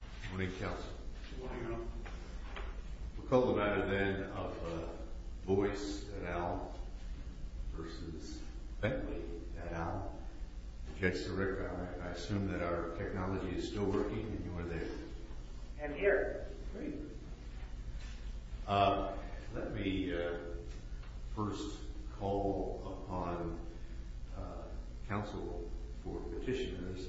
Good morning, Counsel. Good morning, Your Honor. We'll call the matter then of Vooys et al. v. Bentley et al. Judge Sirica, I assume that our technology is still working and you are there? I'm here. Great. Let me first call upon Counsel for Petitioners,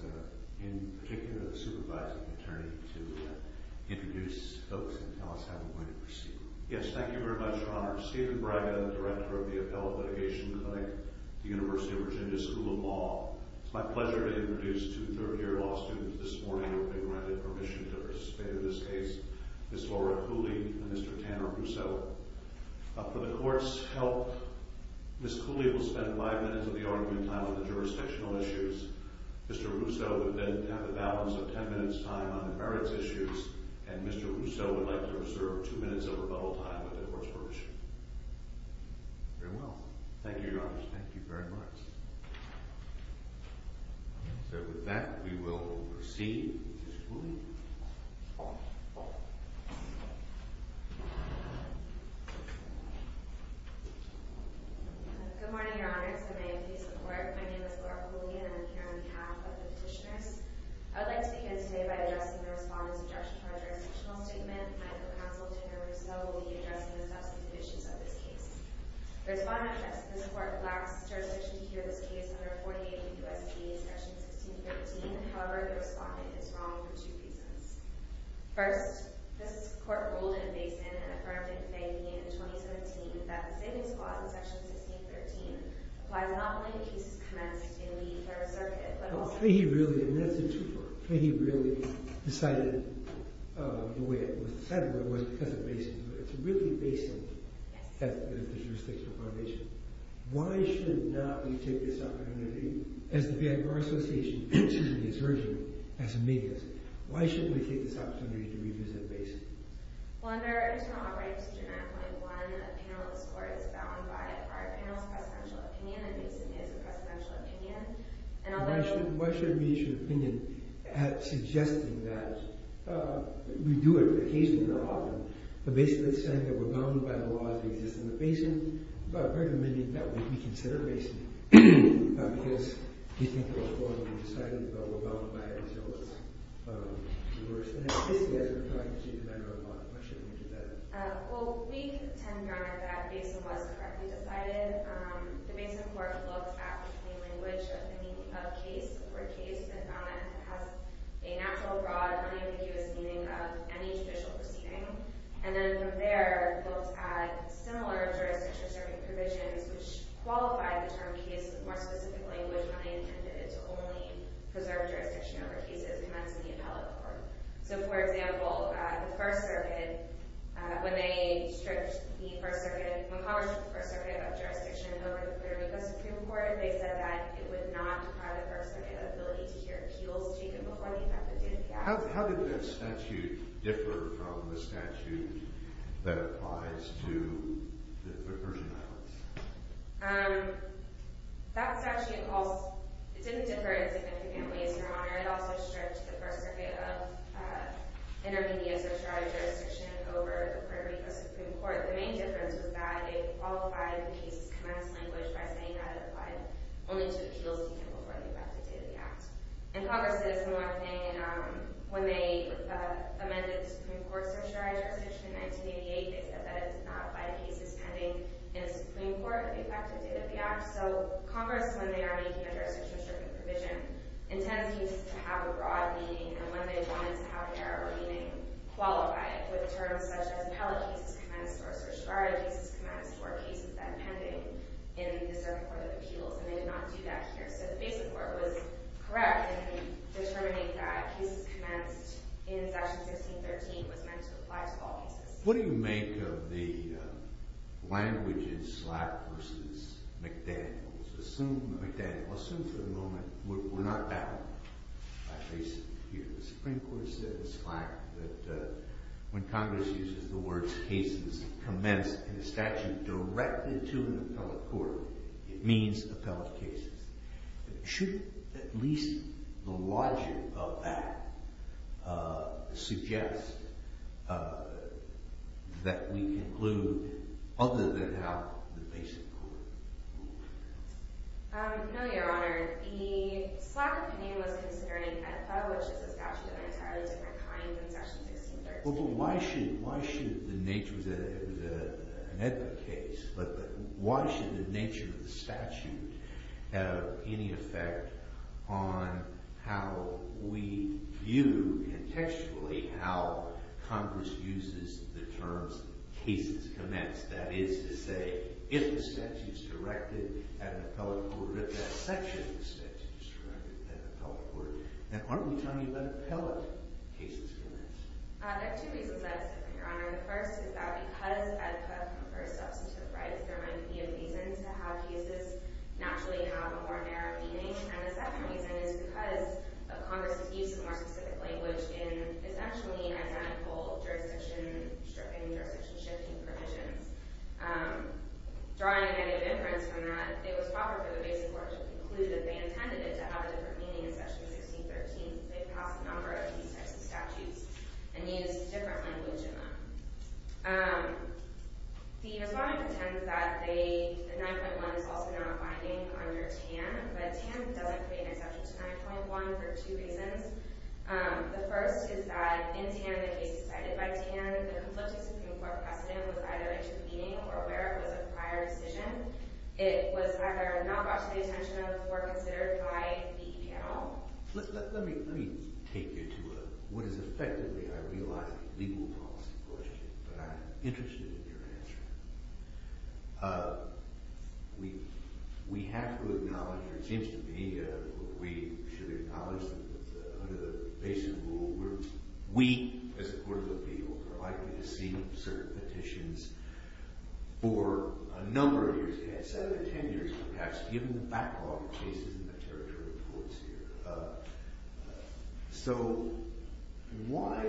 in particular the Supervising Attorney, to introduce folks and tell us how we're going to proceed. Yes, thank you very much, Your Honor. Stephen Bragg, I'm the Director of the Appellate Litigation Clinic at the University of Virginia School of Law. It's my pleasure to introduce two third-year law students this morning who have been granted permission to participate in this case. Ms. Laura Cooley and Mr. Tanner Russo. For the Court's help, Ms. Cooley will spend five minutes of the argument time on the jurisdictional issues. Mr. Russo will then have the balance of ten minutes' time on the merits issues. And Mr. Russo would like to reserve two minutes of rebuttal time with the Court's permission. Very well. Thank you, Your Honor. Thank you very much. So with that, we will proceed with Ms. Cooley. Good morning, Your Honor. It's a pleasure to be here. My name is Laura Cooley and I'm here on behalf of the Petitioners. I would like to begin today by addressing the Respondent's objection to our jurisdictional statement. I hope Counsel Tanner Russo will be addressing the substantive issues of this case. The Respondent says this Court lacks jurisdiction to hear this case under 48 U.S.C. Section 1613. However, the Respondent is wrong for two reasons. First, this Court ruled in Basin and affirmed in Fayette in 2017 that the Savings Clause in Section 1613 applies not only to cases commenced in the Third Circuit, but also— He really—and that's a twofer. He really decided the way it was— decided the way it was because of Basin, but it's really Basin that's the jurisdictional foundation. Why should not we take this opportunity, as the Fayette Bar Association urgently is urging, as a media— why shouldn't we take this opportunity to revisit Basin? Well, under our internal operating procedure 9.1, a panel in this Court is bound by a prior panel's presidential opinion, and Basin is a presidential opinion. Why should we issue an opinion suggesting that we do it occasionally or often, but basically saying that we're bound by the laws that exist in the Basin? Apparently, maybe that would be considered Basin, because we think it was formally decided, but we're bound by it until it's reversed. And then, basically, as we're trying to change the matter of law, why shouldn't we do that? Well, we contend, Your Honor, that Basin was correctly decided. The Basin Court looked at the plain language of the meaning of case or case and found that it has a natural, broad, unambiguous meaning of any judicial proceeding. And then, from there, looked at similar jurisdiction-preserving provisions, which qualified the term case with more specific language when they intended it to only preserve jurisdiction over cases, commencing the appellate court. So, for example, the First Circuit, when they stripped the First Circuit, when Congress stripped the First Circuit of jurisdiction over the Puerto Rico Supreme Court, they said that it would not deprive the First Circuit of the ability to hear appeals taken before the effect of duty of the act. How did that statute differ from the statute that applies to the Persian Islands? When Congress stripped the First Circuit of intermediate socialized jurisdiction over the Puerto Rico Supreme Court, the main difference was that it qualified the case's commenced language by saying that it applied only to appeals taken before the effect of duty of the act. And Congress did a similar thing when they amended the Supreme Court's socialized jurisdiction in 1988. They said that it did not apply to cases pending in the Supreme Court with the effect of duty of the act. So Congress, when they are making a jurisdiction-stripping provision, intends cases to have a broad meaning, and when they want it to have an arabic meaning, qualify it with terms such as appellate cases commenced or certiorari cases commenced or cases that are pending in the Supreme Court of appeals. And they did not do that here. So the Basin Court was correct in determining that cases commenced in Section 1613 was meant to apply to all cases. What do you make of the language in Slack versus McDaniels? Assume McDaniels. Assume for the moment we're not battling, at least here. The Supreme Court said in Slack that when Congress uses the words cases commenced in a statute directed to an appellate court, it means appellate cases. Should at least the logic of that suggest that we conclude other than how the Basin Court moved? No, Your Honor. The Slack opinion was considering an appellate which is a statute of an entirely different kind than Section 1613. Why should the nature of the statute have any effect on how we view contextually how Congress uses the terms cases commenced? That is to say, if the statute is directed at an appellate court, if that section of the statute is directed at an appellate court, then aren't we talking about appellate cases commenced? There are two reasons I would say that, Your Honor. The first is that because EDPA confers substantive rights, there might be a reason to have cases naturally have a more narrow meaning. And the second reason is because of Congress' use of more specific language in essentially identical jurisdiction stripping, jurisdiction shifting provisions. Drawing any inference from that, it was proper for the Basin Court to conclude that they intended it to have a different meaning in Section 1613 since they passed a number of these types of statutes and used different language in them. The respondent intends that the 9.1 is also not binding under TAN, but TAN doesn't create an exception to 9.1 for two reasons. The first is that in TAN, the case decided by TAN, the conflicting Supreme Court precedent was either intervening or where it was a prior decision. It was either not brought to the attention of or considered by the EPA at all. Let me take you to what is effectively, I realize, a legal policy question, but I'm interested in your answer. We have to acknowledge, or it seems to me that we should acknowledge that under the Basin Rule, we, as the Court of Appeals, are likely to see certain petitions for a number of years ahead, seven or ten years perhaps, given the backlog of cases in the territory courts here. So, why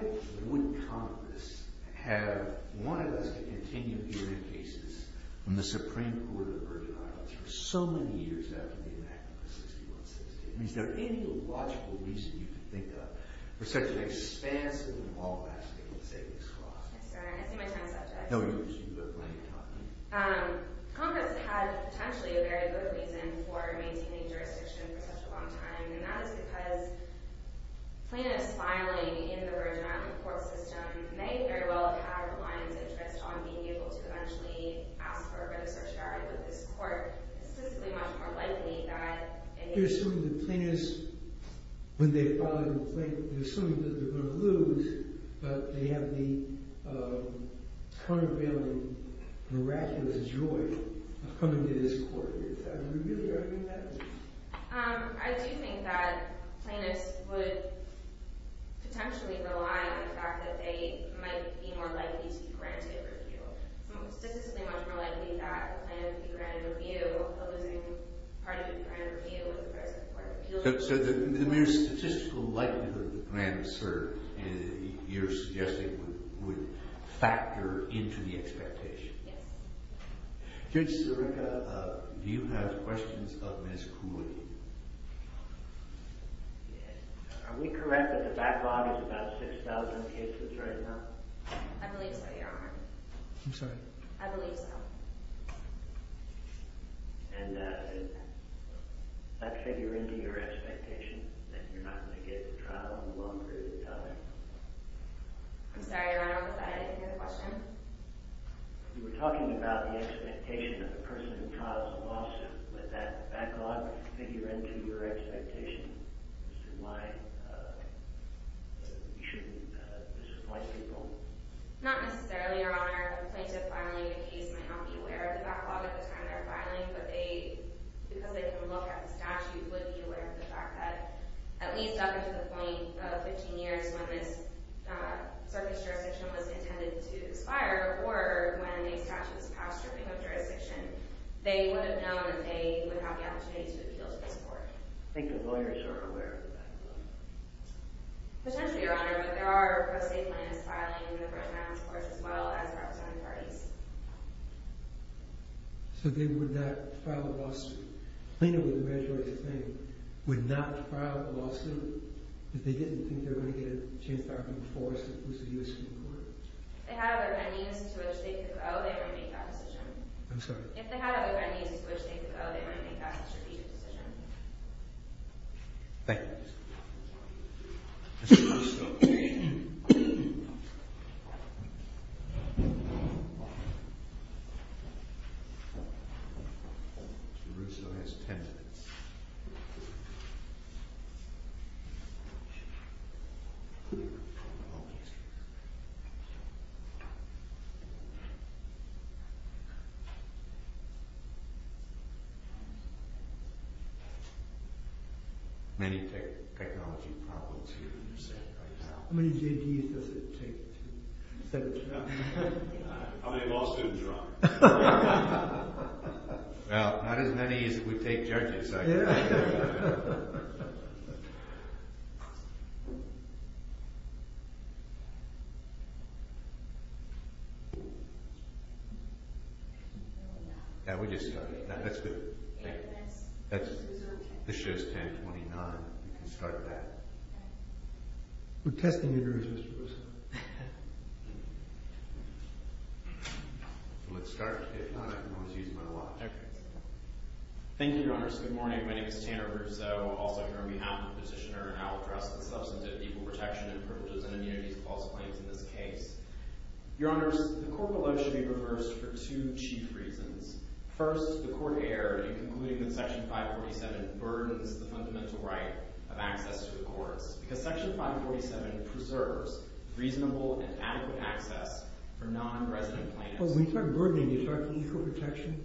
would Congress have wanted us to continue hearing cases from the Supreme Court of the Virgin Islands for so many years after the enactment of 6116? Is there any logical reason you can think of for such an expansive and long-lasting savings clause? I'm sorry, I see my time is up, Judge. No, you do. You have plenty of time. Congress had, potentially, a very good reason for maintaining jurisdiction for such a long time, and that is because plaintiffs filing in the Virgin Islands court system may very well have the client's interest on being able to eventually ask for a redress or charge with this court. It's physically much more likely that... I think you're assuming that plaintiffs, when they file a complaint, they're assuming that they're going to lose, but they have the turn-of-the-wheel and miraculous joy of coming to this court. Do you really reckon that? I do think that plaintiffs would potentially rely on the fact that they might be more likely to be granted review. It's physically much more likely that a plaintiff would be granted review while losing part of the grant review with the first court appeal. So the mere statistical likelihood that the grant is served, you're suggesting, would factor into the expectation? Yes. Judge Sirica, do you have questions of Ms. Cooley? Yes. Are we correct that the backlog is about 6,000 cases right now? I believe so, Your Honor. I'm sorry? I believe so. And does that figure into your expectation that you're not going to get the trial in one period of time? I'm sorry, Your Honor, I didn't hear the question. You were talking about the expectation of the person who trials a lawsuit. Would that backlog figure into your expectation as to why you shouldn't disappoint people? Not necessarily, Your Honor. A plaintiff filing a case might not be aware of the backlog at the time they're filing, but because they can look at the statute, would be aware of the fact that at least up until the point of 15 years when this circuit's jurisdiction was intended to expire, or when the statute's power-stripping of jurisdiction, they would have known that they would have the opportunity to appeal to this court. I think the lawyers are aware of the backlog. Potentially, Your Honor, but there are pro se plaintiffs filing different amounts of courts as well as representative parties. So they would not file a lawsuit. A plaintiff with a rare choice of name would not file a lawsuit if they didn't think they were going to get a chance to argue before a successive U.S. Supreme Court. If they had other venues to which they could go, they wouldn't make that decision. I'm sorry? If they had other venues to which they could go, they wouldn't make that strategic decision. Thank you. Mr. Russo. Mr. Russo has 10 minutes. Thank you. Many technology problems here in the Senate right now. How many judges does it take to set it up? Well, not as many as it would take judges, I guess. Yeah, we just started. That's good. This shows 1029. We can start that. We're testing your nerves, Mr. Russo. Let's start. Thank you, Your Honors. Good morning. My name is Tanner Russo. Also here on behalf of the Petitioner, and I'll address the substantive equal protection and privileges and immunities clause claims in this case. Your Honors, the court below should be reversed for two chief reasons. First, the court erred in concluding that Section 547 burdens the fundamental right of access to the courts. Because Section 547 preserves reasonable and adequate access for non-resident plaintiffs. When you talk burdening, you're talking equal protection?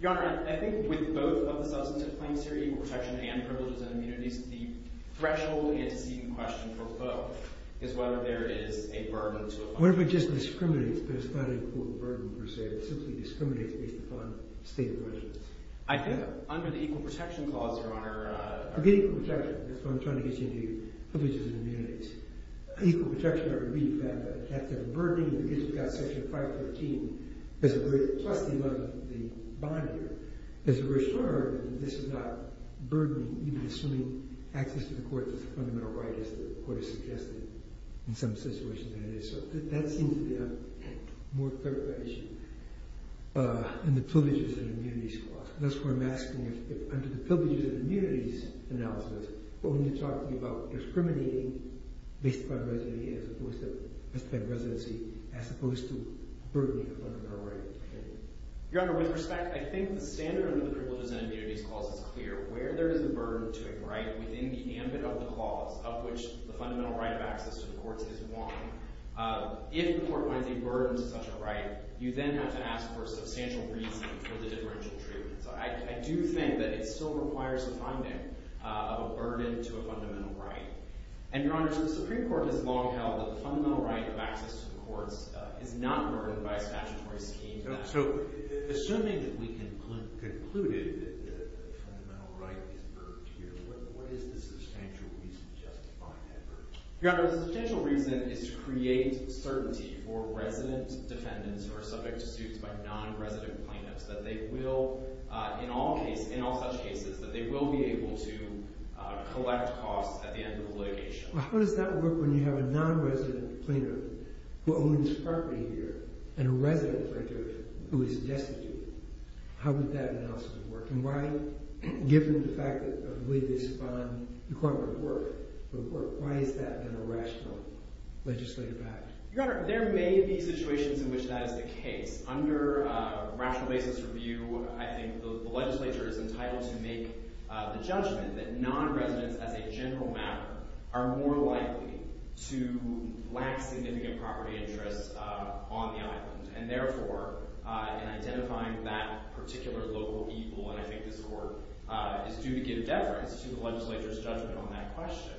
Your Honor, I think with both of the substantive claims here, equal protection and privileges and immunities, the threshold antecedent question for both is whether there is a burden to apply. What if it just discriminates, but it's not a court burden per se? It simply discriminates based upon state of questions. I think under the equal protection clause, Your Honor— Forget equal protection. That's what I'm trying to get you into. Privileges and immunities. Equal protection, I would read that as a burdening because you've got Section 514, plus the bond here. As a restorer, this is not burdening, even assuming access to the courts is a fundamental right, as the court has suggested. In some situations, that is. That seems to be a more clear-cut issue. And the privileges and immunities clause. That's why I'm asking if under the privileges and immunities analysis, when you're talking about discriminating based upon residency as opposed to burdening a fundamental right. Your Honor, with respect, I think the standard under the privileges and immunities clause is clear. Where there is a burden to a right within the ambit of the clause, of which the fundamental right of access to the courts is one, if the court finds a burden to such a right, you then have to ask for a substantial reason for the differential treatment. So I do think that it still requires a finding of a burden to a fundamental right. And, Your Honor, so the Supreme Court has long held that the fundamental right of access to the courts is not burdened by a statutory scheme. So assuming that we concluded that the fundamental right is burdened here, what is the substantial reason justifying that burden? Your Honor, the substantial reason is to create certainty for resident defendants who are subject to suits by non-resident plaintiffs. That they will, in all such cases, that they will be able to collect costs at the end of the litigation. How does that work when you have a non-resident plaintiff who owns property here and a resident plaintiff who is destitute? How would that analysis work? And why, given the fact that, I believe, this bond requirement would work, why has that been a rational legislative action? Your Honor, there may be situations in which that is the case. Under rational basis review, I think the legislature is entitled to make the judgment that non-residents, as a general matter, are more likely to lack significant property interests on the island. And therefore, in identifying that particular local evil, and I think this court is due to give deference to the legislature's judgment on that question.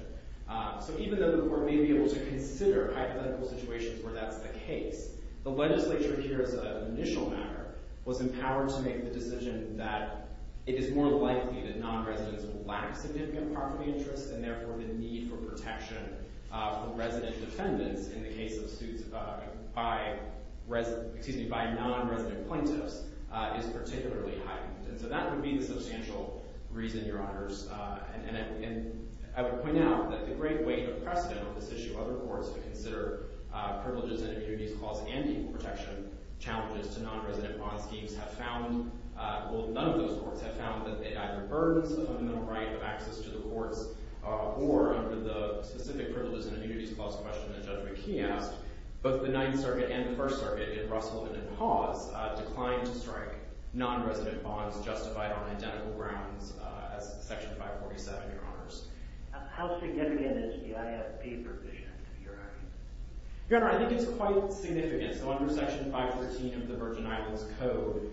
So even though the court may be able to consider hypothetical situations where that's the case, the legislature here, as an initial matter, was empowered to make the decision that it is more likely that non-residents will lack significant property interests and therefore the need for protection for resident defendants, in the case of suits by non-resident plaintiffs, is particularly heightened. And so that would be the substantial reason, Your Honors. And I would point out that the great weight of precedent on this issue, other courts who consider privileges and impunities clause and equal protection challenges to non-resident bond schemes, have found, well none of those courts have found, that it either burdens the fundamental right of access to the courts, or under the specific privileges and impunities clause question that Judge McKee asked, both the Ninth Circuit and the First Circuit, in Russell and in Hawes, declined to strike non-resident bonds justified on identical grounds as Section 547, Your Honors. How significant is the IFP provision, Your Honor? Your Honor, I think it's quite significant. So under Section 513 of the Virgin Islands Code,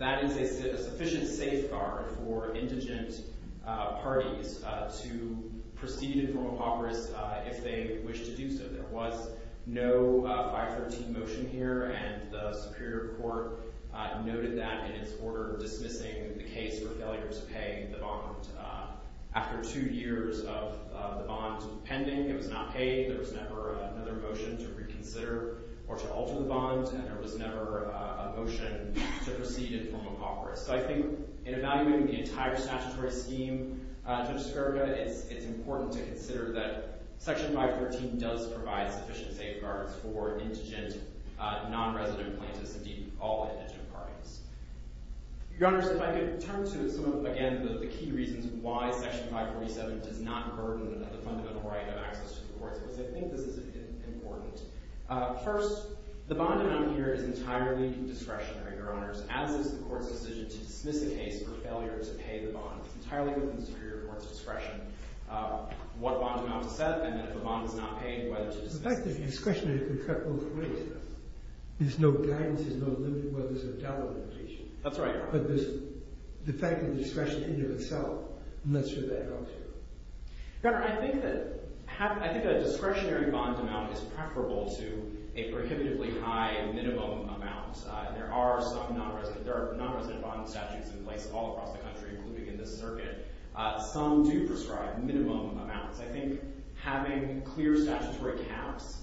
that is a sufficient safeguard for indigent parties to proceed in formal impoverished if they wish to do so. There was no 513 motion here, and the Superior Court noted that in its order dismissing the case for failure to pay the bond. After two years of the bond pending, it was not paid. There was never another motion to reconsider or to alter the bond, and there was never a motion to proceed in formal impoverished. So I think in evaluating the entire statutory scheme, Judge Skirga, it's important to consider that Section 513 does provide sufficient safeguards for indigent non-resident plaintiffs, indeed all indigent parties. Your Honors, if I could turn to some of, again, the key reasons why Section 547 does not burden the fundamental right of access to the courts, because I think this is important. First, the bond amount here is entirely discretionary, Your Honors, as is the court's decision to dismiss a case for failure to pay the bond. It's entirely within the Superior Court's discretion what bond amount to set, and if a bond is not paid, whether to dismiss it. The fact that it's discretionary can cut both ways. There's no guidance, there's no limit where there's a double limitation. That's right, Your Honors. But there's the fact of the discretion in and of itself, and that's where that comes through. Your Honor, I think that a discretionary bond amount is preferable to a prohibitively high minimum amount. There are some non-resident bond statutes in place all across the country, including in this circuit. Some do prescribe minimum amounts. I think having clear statutory caps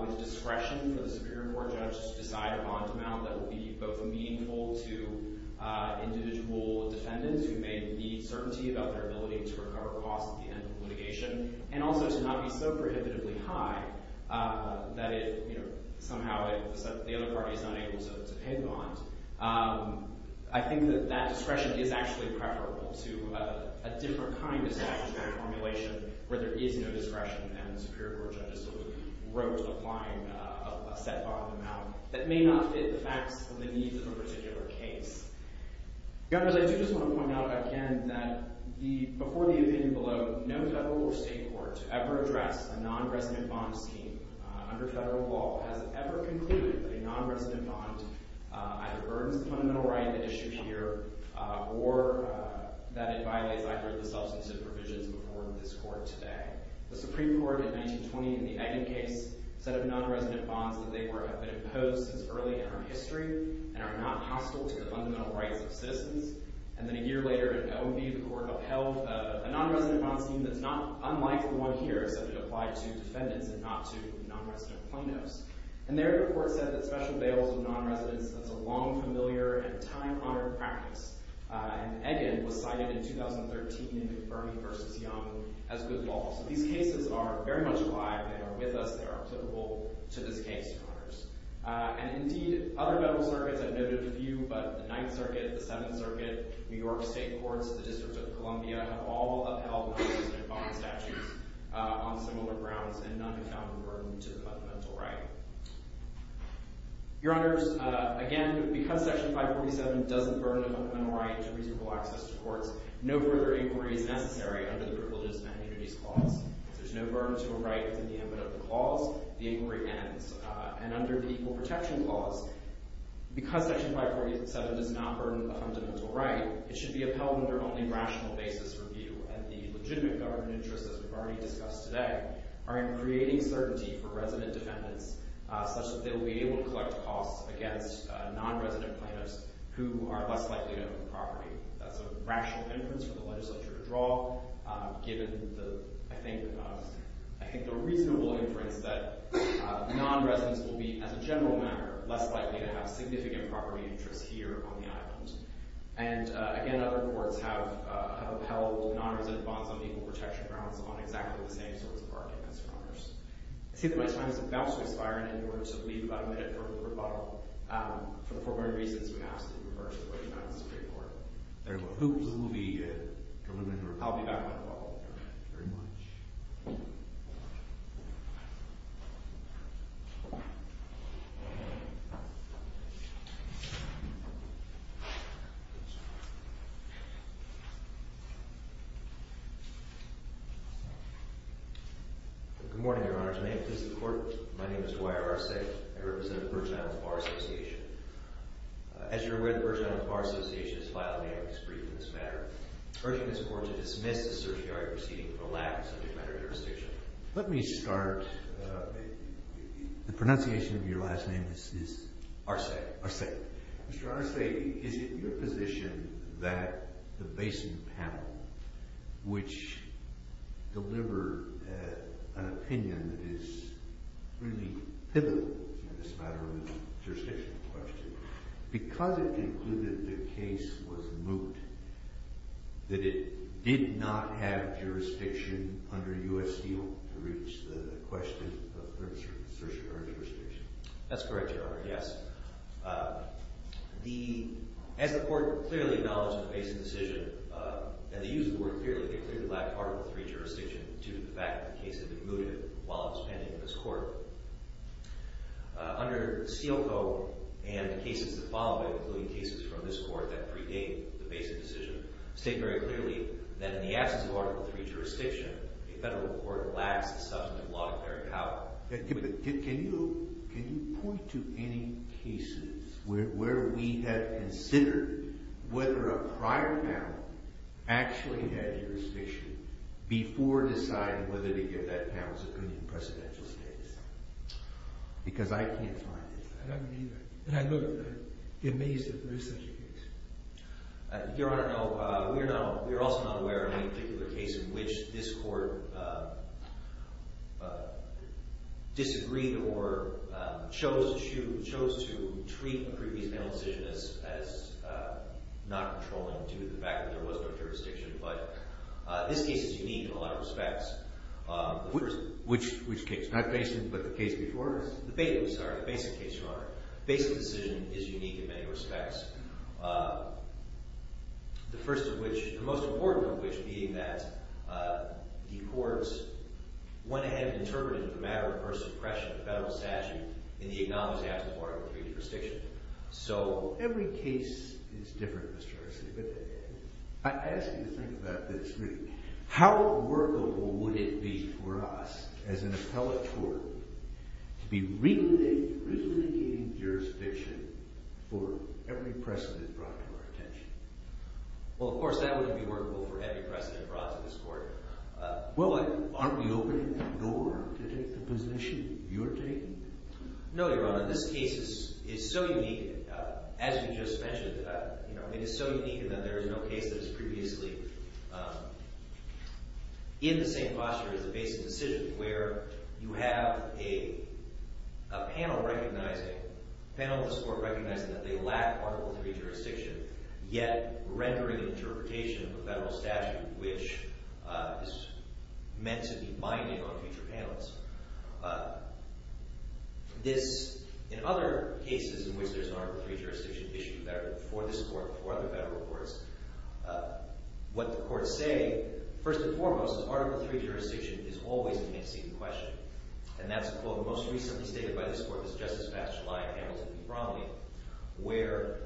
with discretion for the Superior Court judge to decide a bond amount that will be both meaningful to individual defendants who may need certainty about their ability to recover costs at the end of litigation, and also to not be so prohibitively high that it, you know, somehow the other party is unable to pay the bond, I think that that discretion is actually preferable to a different kind of statutory formulation where there is no discretion, and the Superior Court judge sort of wrote the fine set bond amount that may not fit the facts and the needs of a particular case. Your Honors, I do just want to point out again that before the opinion below, no federal or state court to ever address a non-resident bond scheme under federal law has ever concluded that a non-resident bond either burdens the fundamental right at issue here or that it violates either of the substantive provisions before this court today. The Supreme Court in 1920 in the Egan case said of non-resident bonds that they have been imposed since early in our history and are not hostile to the fundamental rights of citizens. And then a year later in OMB, the court upheld a non-resident bond scheme that's not unlike the one here, except it applied to defendants and not to non-resident plaintiffs. And there the court said that special bails of non-residents is a long, familiar, and time-honored practice. And Egan was cited in 2013 in Burmey v. Young as good law. So these cases are very much alive and are with us. They are applicable to this case, Your Honors. And indeed, other federal circuits, I've noted a few, but the Ninth Circuit, the Seventh Circuit, New York State Courts, the District of Columbia, have all upheld non-resident bond statutes on similar grounds and none have found a burden to the fundamental right. Your Honors, again, because Section 547 doesn't burden a fundamental right to reasonable access to courts, no further inquiry is necessary under the Privileges and Immunities Clause. There's no burden to a right within the ambit of the clause. The inquiry ends. And under the Equal Protection Clause, because Section 547 does not burden a fundamental right, it should be upheld under only rational basis review. And the legitimate government interests, as we've already discussed today, are in creating certainty for resident defendants such that they will be able to collect costs against non-resident plaintiffs who are less likely to own the property. That's a rational inference for the legislature to draw, given, I think, the reasonable inference that non-residents will be, as a general matter, less likely to have significant property interests here on the island. And, again, other courts have upheld non-resident bonds on equal protection grounds on exactly the same sorts of arguments, Your Honors. I see that my time is about to expire, and in order to leave about a minute for a quick rebuttal, for the following reasons, we have to reverse the way we found the Supreme Court. Thank you. I'll be back in a moment. Very much. Good morning, Your Honors. My name is Dwyer Arce. I represent the Virgin Islands Bar Association. As you're aware, the Virgin Islands Bar Association has filed an amicus brief in this matter, urging this Court to dismiss the certiorari proceeding for lack of subject matter jurisdiction. Let me start. The pronunciation of your last name is Arce. Arce. Mr. Arce, is it your position that the Basin panel, which delivered an opinion that is really pivotal in this matter on the jurisdiction question, because it concluded the case was moot, that it did not have jurisdiction under U.S. Steel to reach the question of certiorari jurisdiction? That's correct, Your Honor, yes. As the Court clearly acknowledged in the Basin decision, and they used the word clearly, they clearly lacked Article III jurisdiction due to the fact that the case had been mooted while it was pending in this Court. Under Steel Co. and the cases that followed, including cases from this Court that predate the Basin decision, state very clearly that in the absence of Article III jurisdiction, a federal court lacks the substantive law to carry it out. Can you point to any cases where we have considered whether a prior panel actually had jurisdiction before deciding whether to give that panel's opinion in precedential status? Because I can't find it. I don't either. And I'm amazed that there is such a case. Your Honor, no. We are also not aware of any particular case in which this Court disagreed or chose to treat a previous panel decision as not controlling due to the fact that there was no jurisdiction. But this case is unique in a lot of respects. Which case? Not Basin, but the case before it? The Basin case, Your Honor. The Basin decision is unique in many respects. The first of which, the most important of which being that the Courts went ahead and interpreted it as a matter of personal discretion, a federal statute, in the absence of Article III jurisdiction. So every case is different, Mr. Arce. But I ask you to think about this. How workable would it be for us as an appellate court to be renegading jurisdiction for every precedent brought to our attention? Well, of course that wouldn't be workable for every precedent brought to this Court. Well, aren't we opening the door to take the position you're taking? No, Your Honor. This case is so unique, as you just mentioned. It is so unique in that there is no case that is previously in the same posture as the Basin decision, where you have a panel of the Court recognizing that they lack Article III jurisdiction, yet rendering interpretation of a federal statute which is meant to be binding on future panels. In other cases in which there is Article III jurisdiction issued for this Court and for other federal courts, what the Courts say, first and foremost, is that Article III jurisdiction is always going to be seen to question. And that's a quote most recently stated by this Court, Justice Batchelet and Hamilton v. Bromley, where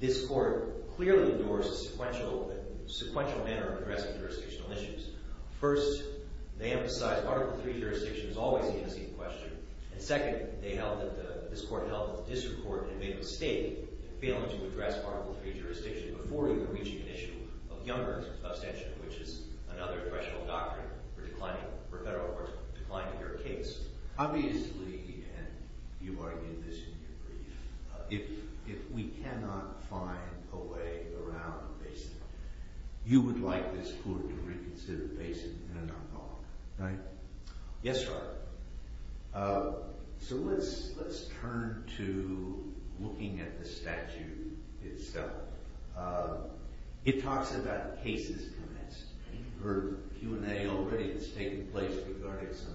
this Court clearly endures a sequential manner of addressing jurisdictional issues. First, they emphasize Article III jurisdiction is always going to be seen to question. And second, this Court held that the District Court had made a mistake in failing to address Article III jurisdiction before even reaching an issue of younger abstention, which is another threshold doctrine for a federal court declining their case. Obviously, and you've argued this in your brief, if we cannot find a way around the Basin, you would like this Court to reconsider the Basin in an ongoing way, right? Yes, Your Honor. So let's turn to looking at the statute itself. It talks about cases commenced. You've heard Q&A already that's taken place regarding some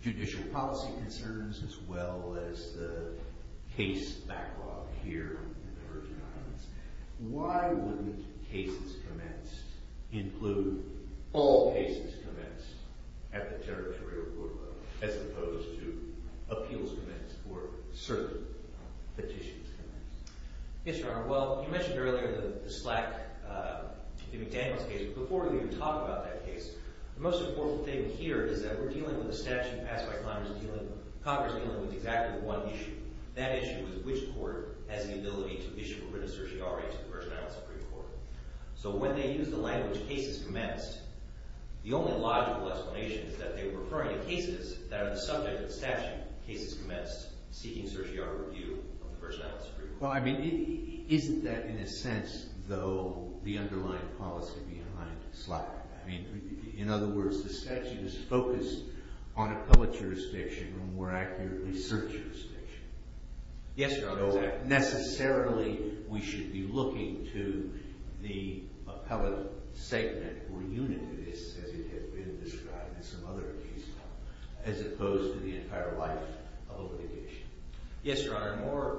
judicial policy concerns as well as the case backlog here in the Virgin Islands. Why wouldn't cases commenced include all cases commenced at the territorial court level as opposed to appeals commenced or certain petitions commenced? Yes, Your Honor. Well, you mentioned earlier the SLAC, the McDaniels case. Before we even talk about that case, the most important thing here is that we're dealing with a statute passed by Congress dealing with exactly one issue. That issue is which court has the ability to issue a written certiorari to the Virgin Islands Supreme Court. So when they use the language cases commenced, the only logical explanation is that they're referring to cases that are the subject of the statute, cases commenced, seeking certiorari review of the Virgin Islands Supreme Court. Well, I mean, isn't that in a sense, though, the underlying policy behind SLAC? I mean, in other words, the statute is focused on appellate jurisdiction or, more accurately, cert jurisdiction. Yes, Your Honor. So necessarily we should be looking to the appellate segment or unit of this as it has been described in some other cases as opposed to the entire life of a litigation. Yes, Your Honor.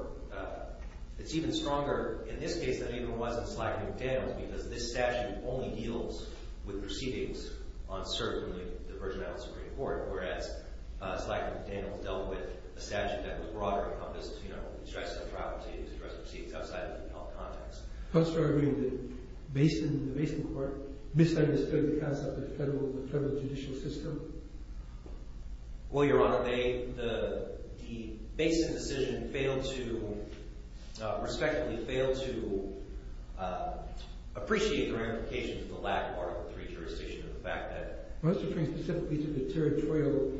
It's even stronger in this case than it even was in SLAC-McDaniels because this statute only deals with proceedings on cert from the Virgin Islands Supreme Court, whereas SLAC-McDaniels dealt with a statute that was broader, encompassed, you know, distressing properties, distressing proceedings outside of the appellate context. Perhaps you're arguing that the Basin Court misunderstood the concept of the federal judicial system? Well, Your Honor, the Basin decision failed to, respectfully, failed to appreciate the ramifications of the lack of article 3 jurisdiction and the fact that— Perhaps you're referring specifically to the territorial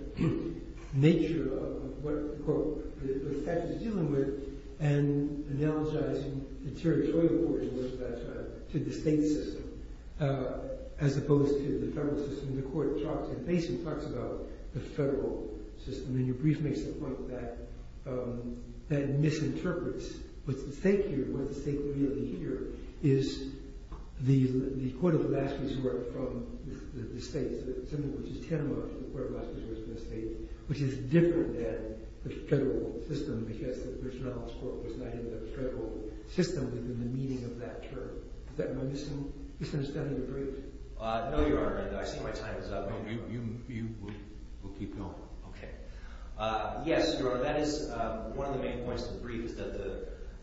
nature of what the statute is dealing with and analogizing the territorial portion of the statute to the state system as opposed to the federal system. The court in Basin talks about the federal system, and your brief makes the point that that misinterprets what's at stake here, what's at stake really here, is the Court of Alaska's work from the states, which is different than the federal system because the Virgin Islands Court was not in the federal system within the meaning of that term. Is that my misunderstanding of the brief? No, Your Honor. I see my time is up. You will keep going. Okay. Yes, Your Honor, that is one of the main points of the brief is that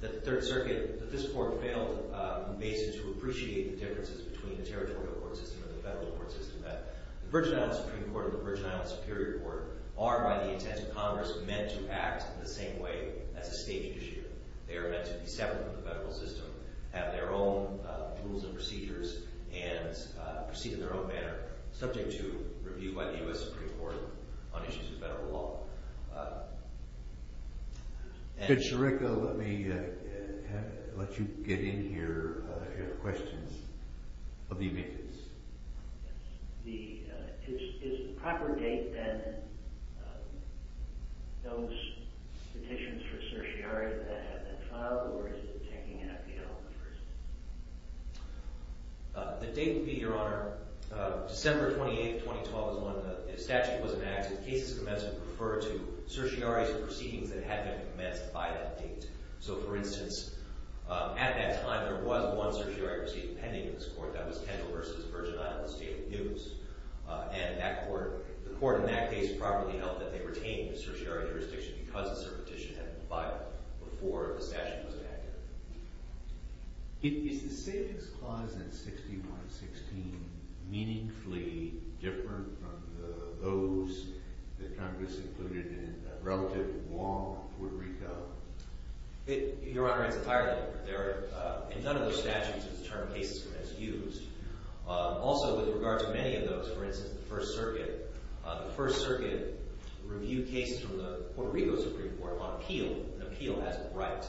the Third Circuit, that this court failed in Basin to appreciate the differences between the territorial court system and the federal court system, that the Virgin Islands Supreme Court and the Virgin Islands Superior Court are, by the intent of Congress, meant to act in the same way as a state judiciary. They are meant to be separate from the federal system, have their own rules and procedures, and proceed in their own manner, subject to review by the U.S. Supreme Court on issues of federal law. Judge Sirica, let me let you get in here if you have questions of the evidence. Is the proper date, then, those petitions for certiorari that have been filed, or is it taking effect on the 1st? The date would be, Your Honor, December 28, 2012 is when the statute was enacted. Cases commenced would refer to certiorari proceedings that had been commenced by that date. So, for instance, at that time, there was one certiorari proceeding pending in this court. That was Kendall v. Virgin Islands State News. And the court in that case properly held that they retained the certiorari jurisdiction because the petition had been filed before the statute was enacted. Is the Savings Clause in 6116 meaningfully different from those that Congress included in relative law in Puerto Rico? Your Honor, it's entirely different. In none of those statutes is the term cases commenced used. Also, with regard to many of those, for instance, the First Circuit, the First Circuit reviewed cases from the Puerto Rico Supreme Court on appeal. An appeal as a right.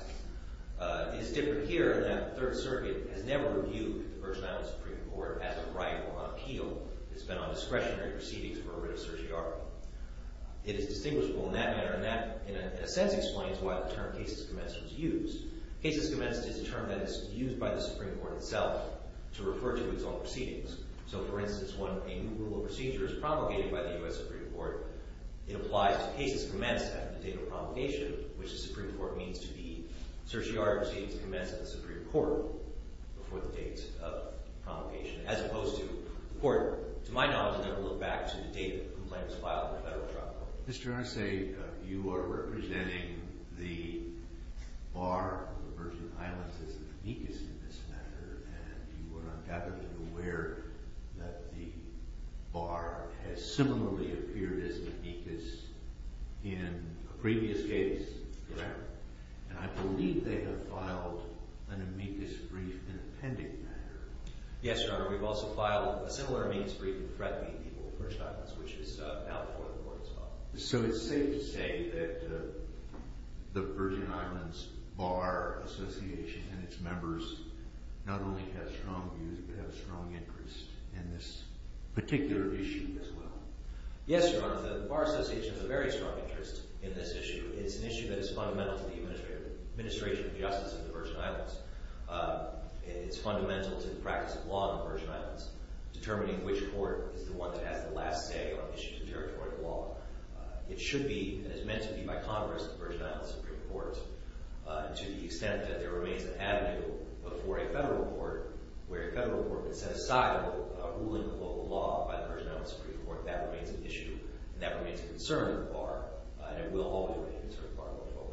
It's different here in that the Third Circuit has never reviewed the Virgin Islands Supreme Court as a right or on appeal. It's been on discretionary proceedings for a writ of certiorari. It is distinguishable in that manner, and that, in a sense, explains why the term cases commenced was used. Cases commenced is a term that is used by the Supreme Court itself to refer to its own proceedings. So, for instance, when a new rule of procedure is promulgated by the U.S. Supreme Court, it applies to cases commenced after the date of promulgation, which the Supreme Court means to be certiorari proceedings commenced at the Supreme Court before the date of promulgation, as opposed to the court, to my knowledge, never looked back to the date of the complaint was filed in the federal trial. Mr. Arce, you are representing the bar of the Virgin Islands as the weakest in this matter, and you were undoubtedly aware that the bar has similarly appeared as an amicus in a previous case, correct? Yes. And I believe they have filed an amicus brief in the pending matter. Yes, Your Honor. We've also filed a similar amicus brief in threatening people of the Virgin Islands, which is now before the court as well. So it's safe to say that the Virgin Islands Bar Association and its members not only have strong views but have a strong interest in this particular issue as well? Yes, Your Honor. The Bar Association has a very strong interest in this issue. It's an issue that is fundamental to the administration of justice in the Virgin Islands. It's fundamental to the practice of law in the Virgin Islands, determining which court is the one that has the last say on issues of territorial law. It should be, and is meant to be by Congress, the Virgin Islands Supreme Court. To the extent that there remains an avenue before a federal court where a federal court can set aside a ruling of local law by the Virgin Islands Supreme Court, that remains an issue and that remains a concern of the Bar, and it will always be a concern of the Bar going forward.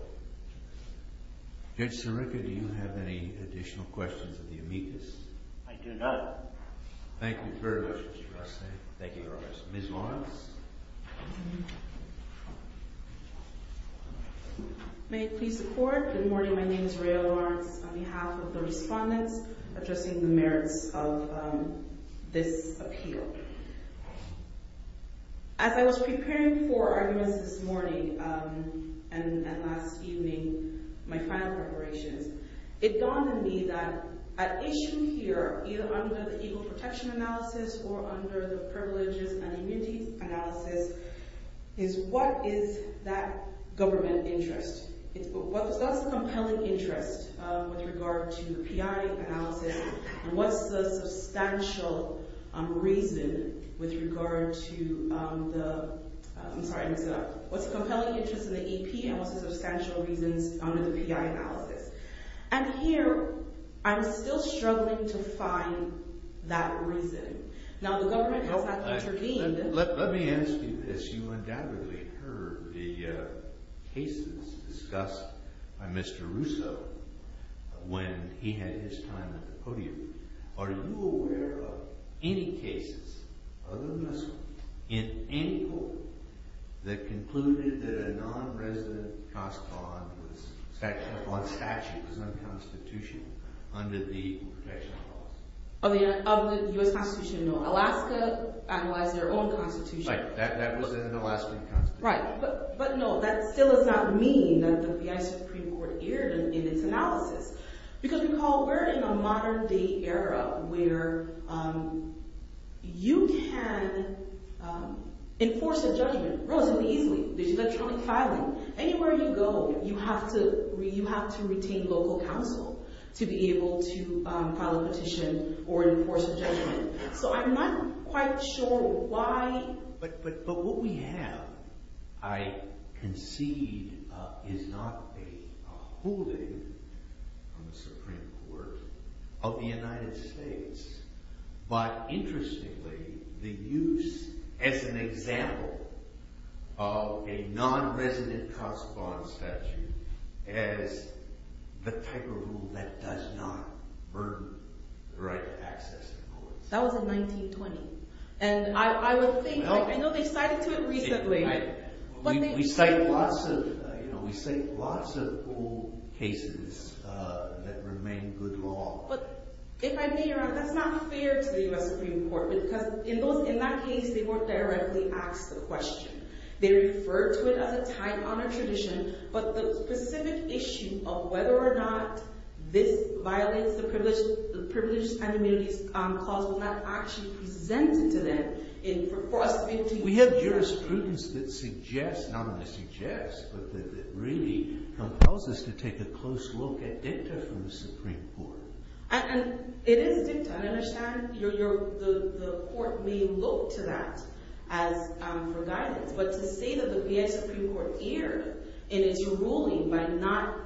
Judge Sirica, do you have any additional questions of the amicus? I do not. Thank you very much, Mr. Rusty. Thank you, Your Honor. Ms. Lawrence? May it please the Court? Good morning. My name is Rayelle Lawrence on behalf of the respondents addressing the merits of this appeal. As I was preparing for arguments this morning and last evening, my final preparations, it dawned on me that an issue here, either under the Equal Protection Analysis or under the Privileges and Immunities Analysis, is what is that government interest? What's the compelling interest with regard to the P.I. analysis? And what's the substantial reason with regard to the – I'm sorry, mix it up. What's the compelling interest in the E.P. and what's the substantial reasons under the P.I. analysis? And here, I'm still struggling to find that reason. Now, the government has had to intervene. Let me ask you this. You undoubtedly heard the cases discussed by Mr. Russo when he had his time at the podium. Are you aware of any cases, other than this one, in any court that concluded that a non-resident cost on statute was unconstitutional under the Equal Protection Analysis? Of the U.S. Constitution? No. Alaska analyzed their own constitution. Right. That was in the last constitution. Right. But no, that still does not mean that the P.I. Supreme Court erred in its analysis. Because recall, we're in a modern-day era where you can enforce a judgment relatively easily. There's electronic filing. Anywhere you go, you have to retain local counsel to be able to file a petition or enforce a judgment. So I'm not quite sure why – But what we have, I concede, is not a holding on the Supreme Court of the United States. But interestingly, the use as an example of a non-resident cost bond statute as the type of rule that does not burden the right to access the courts. That was in 1920. And I would think – I know they cited to it recently. We cite lots of old cases that remain good law. But if I may, Your Honor, that's not fair to the U.S. Supreme Court. Because in that case, they weren't directly asked the question. They referred to it as a tight honor tradition. But the specific issue of whether or not this violates the Privileges and Humilities Clause was not actually presented to them. We have jurisprudence that suggests – not only suggests, but that really compels us to take a close look at dicta from the Supreme Court. And it is dicta. I understand the court may look to that for guidance. But to say that the U.S. Supreme Court erred in its ruling by not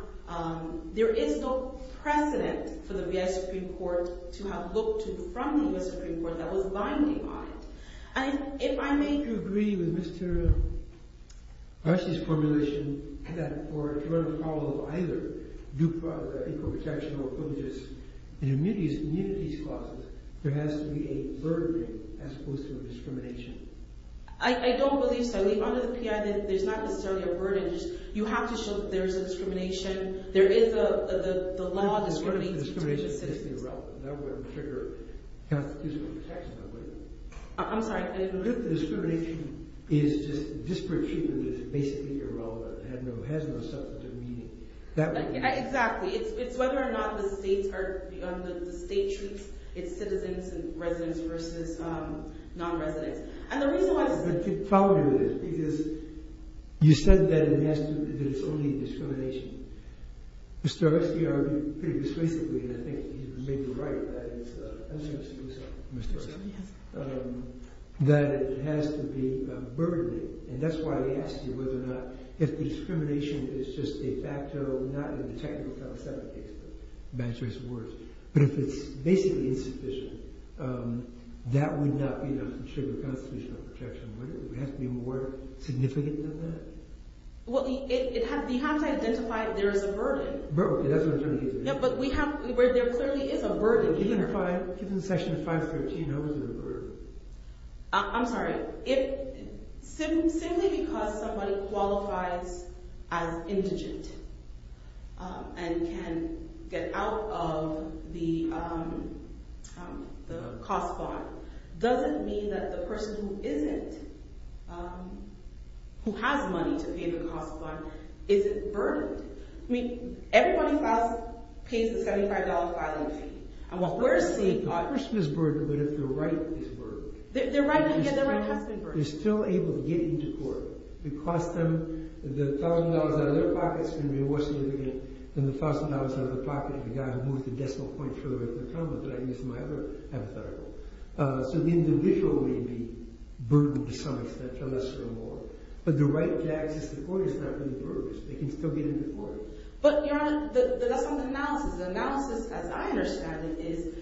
– there is no precedent for the U.S. Supreme Court to have looked to from the U.S. Supreme Court that was binding on it. And if I may – Do you agree with Mr. Arce's formulation that in order to follow either the Equal Protection or Privileges and Humilities Clause, there has to be a burden as opposed to a discrimination? I don't believe so. Under the P.I., there's not necessarily a burden. You have to show that there is a discrimination. There is a law that discriminates between citizens. That wouldn't trigger constitutional protection, that would it? I'm sorry, I didn't – Discrimination is just – disparate treatment is basically irrelevant. It has no substantive meaning. Exactly. It's whether or not the state treats its citizens and residents versus non-residents. And the reason why – Follow me on this, because you said that it has to – that it's only discrimination. Mr. Arce, you argued pretty persuasively, and I think you may be right, that it has to be burdening. And that's why I asked you whether or not if discrimination is just a facto, not in the technical felicitative case, but if it's basically insufficient, that would not trigger constitutional protection, would it? Would it have to be more significant than that? Well, you have to identify that there is a burden. Burden, that's what I'm trying to get to. Yeah, but we have – there clearly is a burden here. Well, given the Section 513, how is it a burden? I'm sorry. If – simply because somebody qualifies as indigent and can get out of the cost bond, does it mean that the person who isn't, who has money to pay the cost bond, isn't burdened? I mean, everybody pays the $75 filing fee. The person is burdened, but if their right is burdened. Their right has to be burdened. They're still able to get into court. It costs them – the $1,000 out of their pocket is going to be more significant than the $1,000 out of the pocket of the guy who moved the decimal point further away from the counter, but I used my other hypothetical. So the individual may be burdened to some extent, for lesser or more, but the right to access the court is not going to be burdened because they can still get into court. But, Your Honor, that's not the analysis. The analysis, as I understand it, is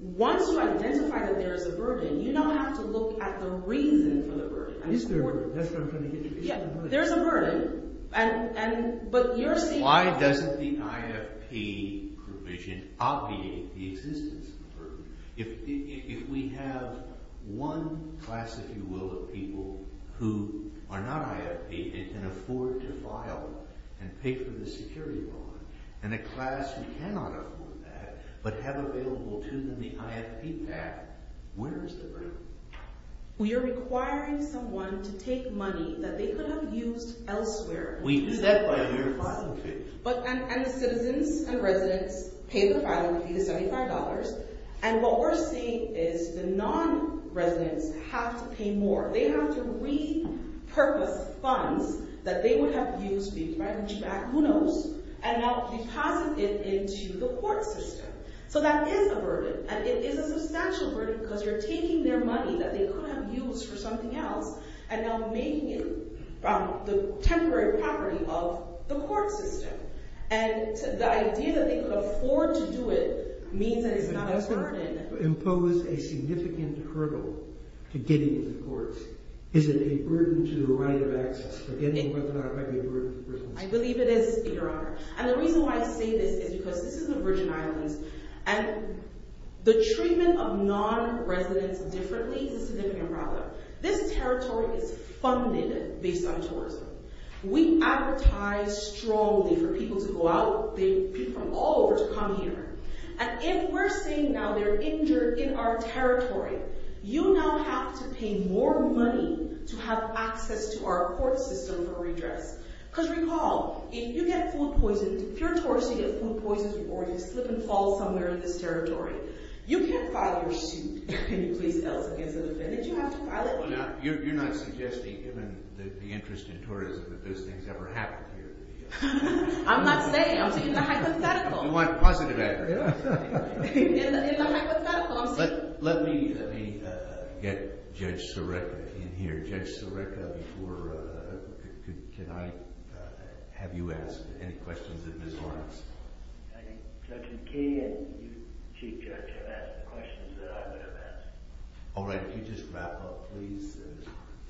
once you identify that there is a burden, you don't have to look at the reason for the burden. Is there a burden? That's what I'm trying to get at. There's a burden, and – but you're saying – and a class who cannot afford that, but have available to them the IFP PAC, where is the burden? We do that by a year of filing fees. But – and the citizens and residents pay the filing fee, the $75, and what we're saying is the non-residents have to pay more. They have to repurpose funds that they would have used to be able to buy the CHPAC, who knows, and now deposit it into the court system. So that is a burden, and it is a substantial burden because you're taking their money that they could have used for something else and now making it the temporary property of the court system. And the idea that they could afford to do it means that it's not as burdened. Does that impose a significant hurdle to getting into the courts? Is it a burden to the right of access? I believe it is, Your Honor, and the reason why I say this is because this is the Virgin Islands, and the treatment of non-residents differently is a significant problem. This territory is funded based on tourism. We advertise strongly for people to go out, people from all over to come here. And if we're saying now they're injured in our territory, you now have to pay more money to have access to our court system for redress. Because recall, if you get food poisoned – if you're a tourist and you get food poisoned or you slip and fall somewhere in this territory, you can't file your suit. Can you please tell us against the defendant you have to file it? You're not suggesting, given the interest in tourism, that those things ever happened here? I'm not saying. I'm taking the hypothetical. You want a positive answer? Yeah. In the hypothetical, I'm saying. Let me get Judge Sorreca in here. Judge Sorreca, before – can I have you ask any questions of Ms. Lawrence? I think Judge McKee and you, Chief Judge, have asked the questions that I would have asked. All right. Could you just wrap up, please?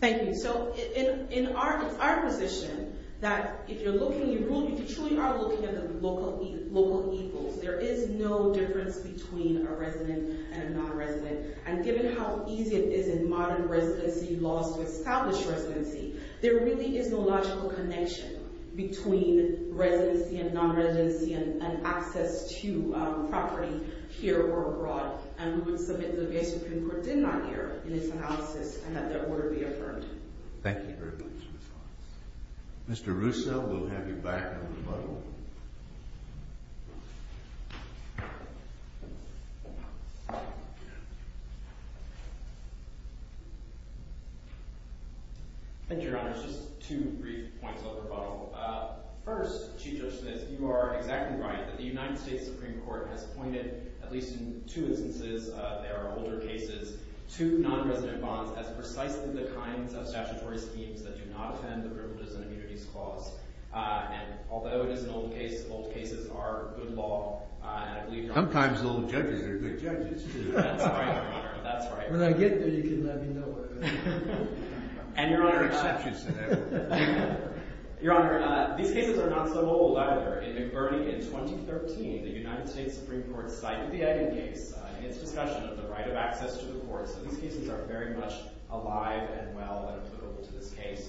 Thank you. So it's our position that if you're looking – you truly are looking at the local equals. There is no difference between a resident and a non-resident. And given how easy it is in modern residency laws to establish residency, there really is no logical connection between residency and non-residency and access to property here or abroad. And we would submit that the U.S. Supreme Court did not err in its analysis and that their order be affirmed. Thank you very much, Ms. Lawrence. Mr. Russo, we'll have you back in rebuttal. Thank you, Your Honor. Just two brief points of rebuttal. First, Chief Judge Smith, you are exactly right that the United States Supreme Court has pointed, at least in two instances – there are older cases – to non-resident bonds as precisely the kinds of statutory schemes that do not offend the Privileges and Immunities Clause. And although it is an old case, old cases are good law. Sometimes old judges are good judges. That's right, Your Honor. That's right. When I get there, you can let me know. Your Honor, these cases are not so old, either. In McBurney in 2013, the United States Supreme Court cited the Egging case in its discussion of the right of access to the courts. So these cases are very much alive and well and applicable to this case.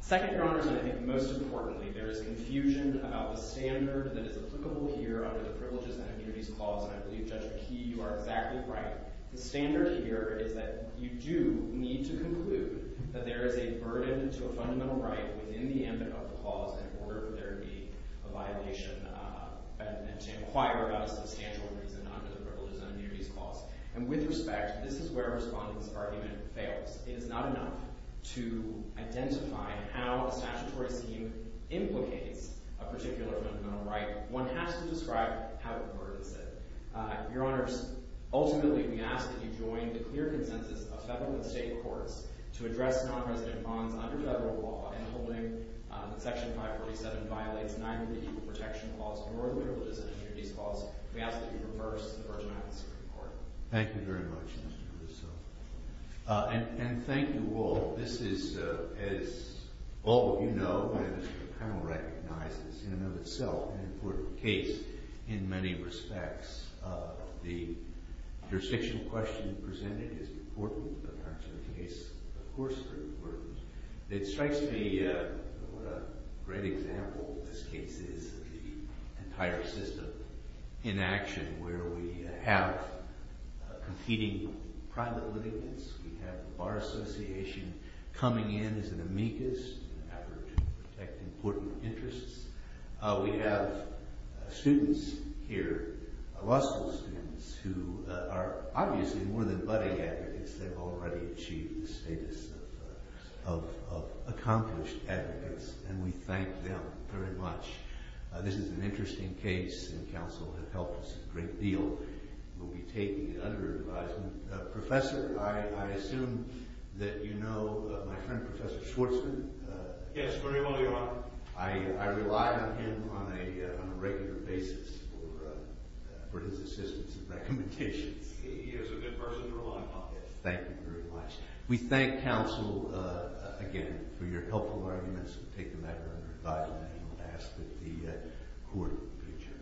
Second, Your Honors, and I think most importantly, there is confusion about the standard that is applicable here under the Privileges and Immunities Clause. And I believe, Judge McKee, you are exactly right. The standard here is that you do need to conclude that there is a burden to a fundamental right within the eminent of the clause in order for there to be a violation. And to inquire about a substantial reason under the Privileges and Immunities Clause. And with respect, this is where Respondent's argument fails. It is not enough to identify how a statutory scheme implicates a particular fundamental right. One has to describe how important it is. Your Honors, ultimately, we ask that you join the clear consensus of federal and state courts to address nonresident bonds under federal law. And holding that Section 547 violates neither the Equal Protection Clause nor the Privileges and Immunities Clause. We ask that you reverse the Virgin Islands Supreme Court. Thank you very much, Mr. Russo. And thank you all. This is, as all of you know, and the panel recognizes, in and of itself, an important case in many respects. The jurisdictional question presented is important in terms of the case. Of course, it's important. It strikes me what a great example this case is of the entire system in action where we have competing private living units. We have the Bar Association coming in as an amicus in an effort to protect important interests. We have students here, Russell students, who are obviously more than buddy advocates. They've already achieved the status of accomplished advocates, and we thank them very much. This is an interesting case, and counsel have helped us a great deal. We'll be taking other advisement. Professor, I assume that you know my friend Professor Schwartzman? Yes, very well, Your Honor. I rely on him on a regular basis for his assistance and recommendations. He is a good person to rely on. Thank you very much. We thank counsel again for your helpful arguments. We'll take the matter under advisement, and we'll ask that the Court adjourn.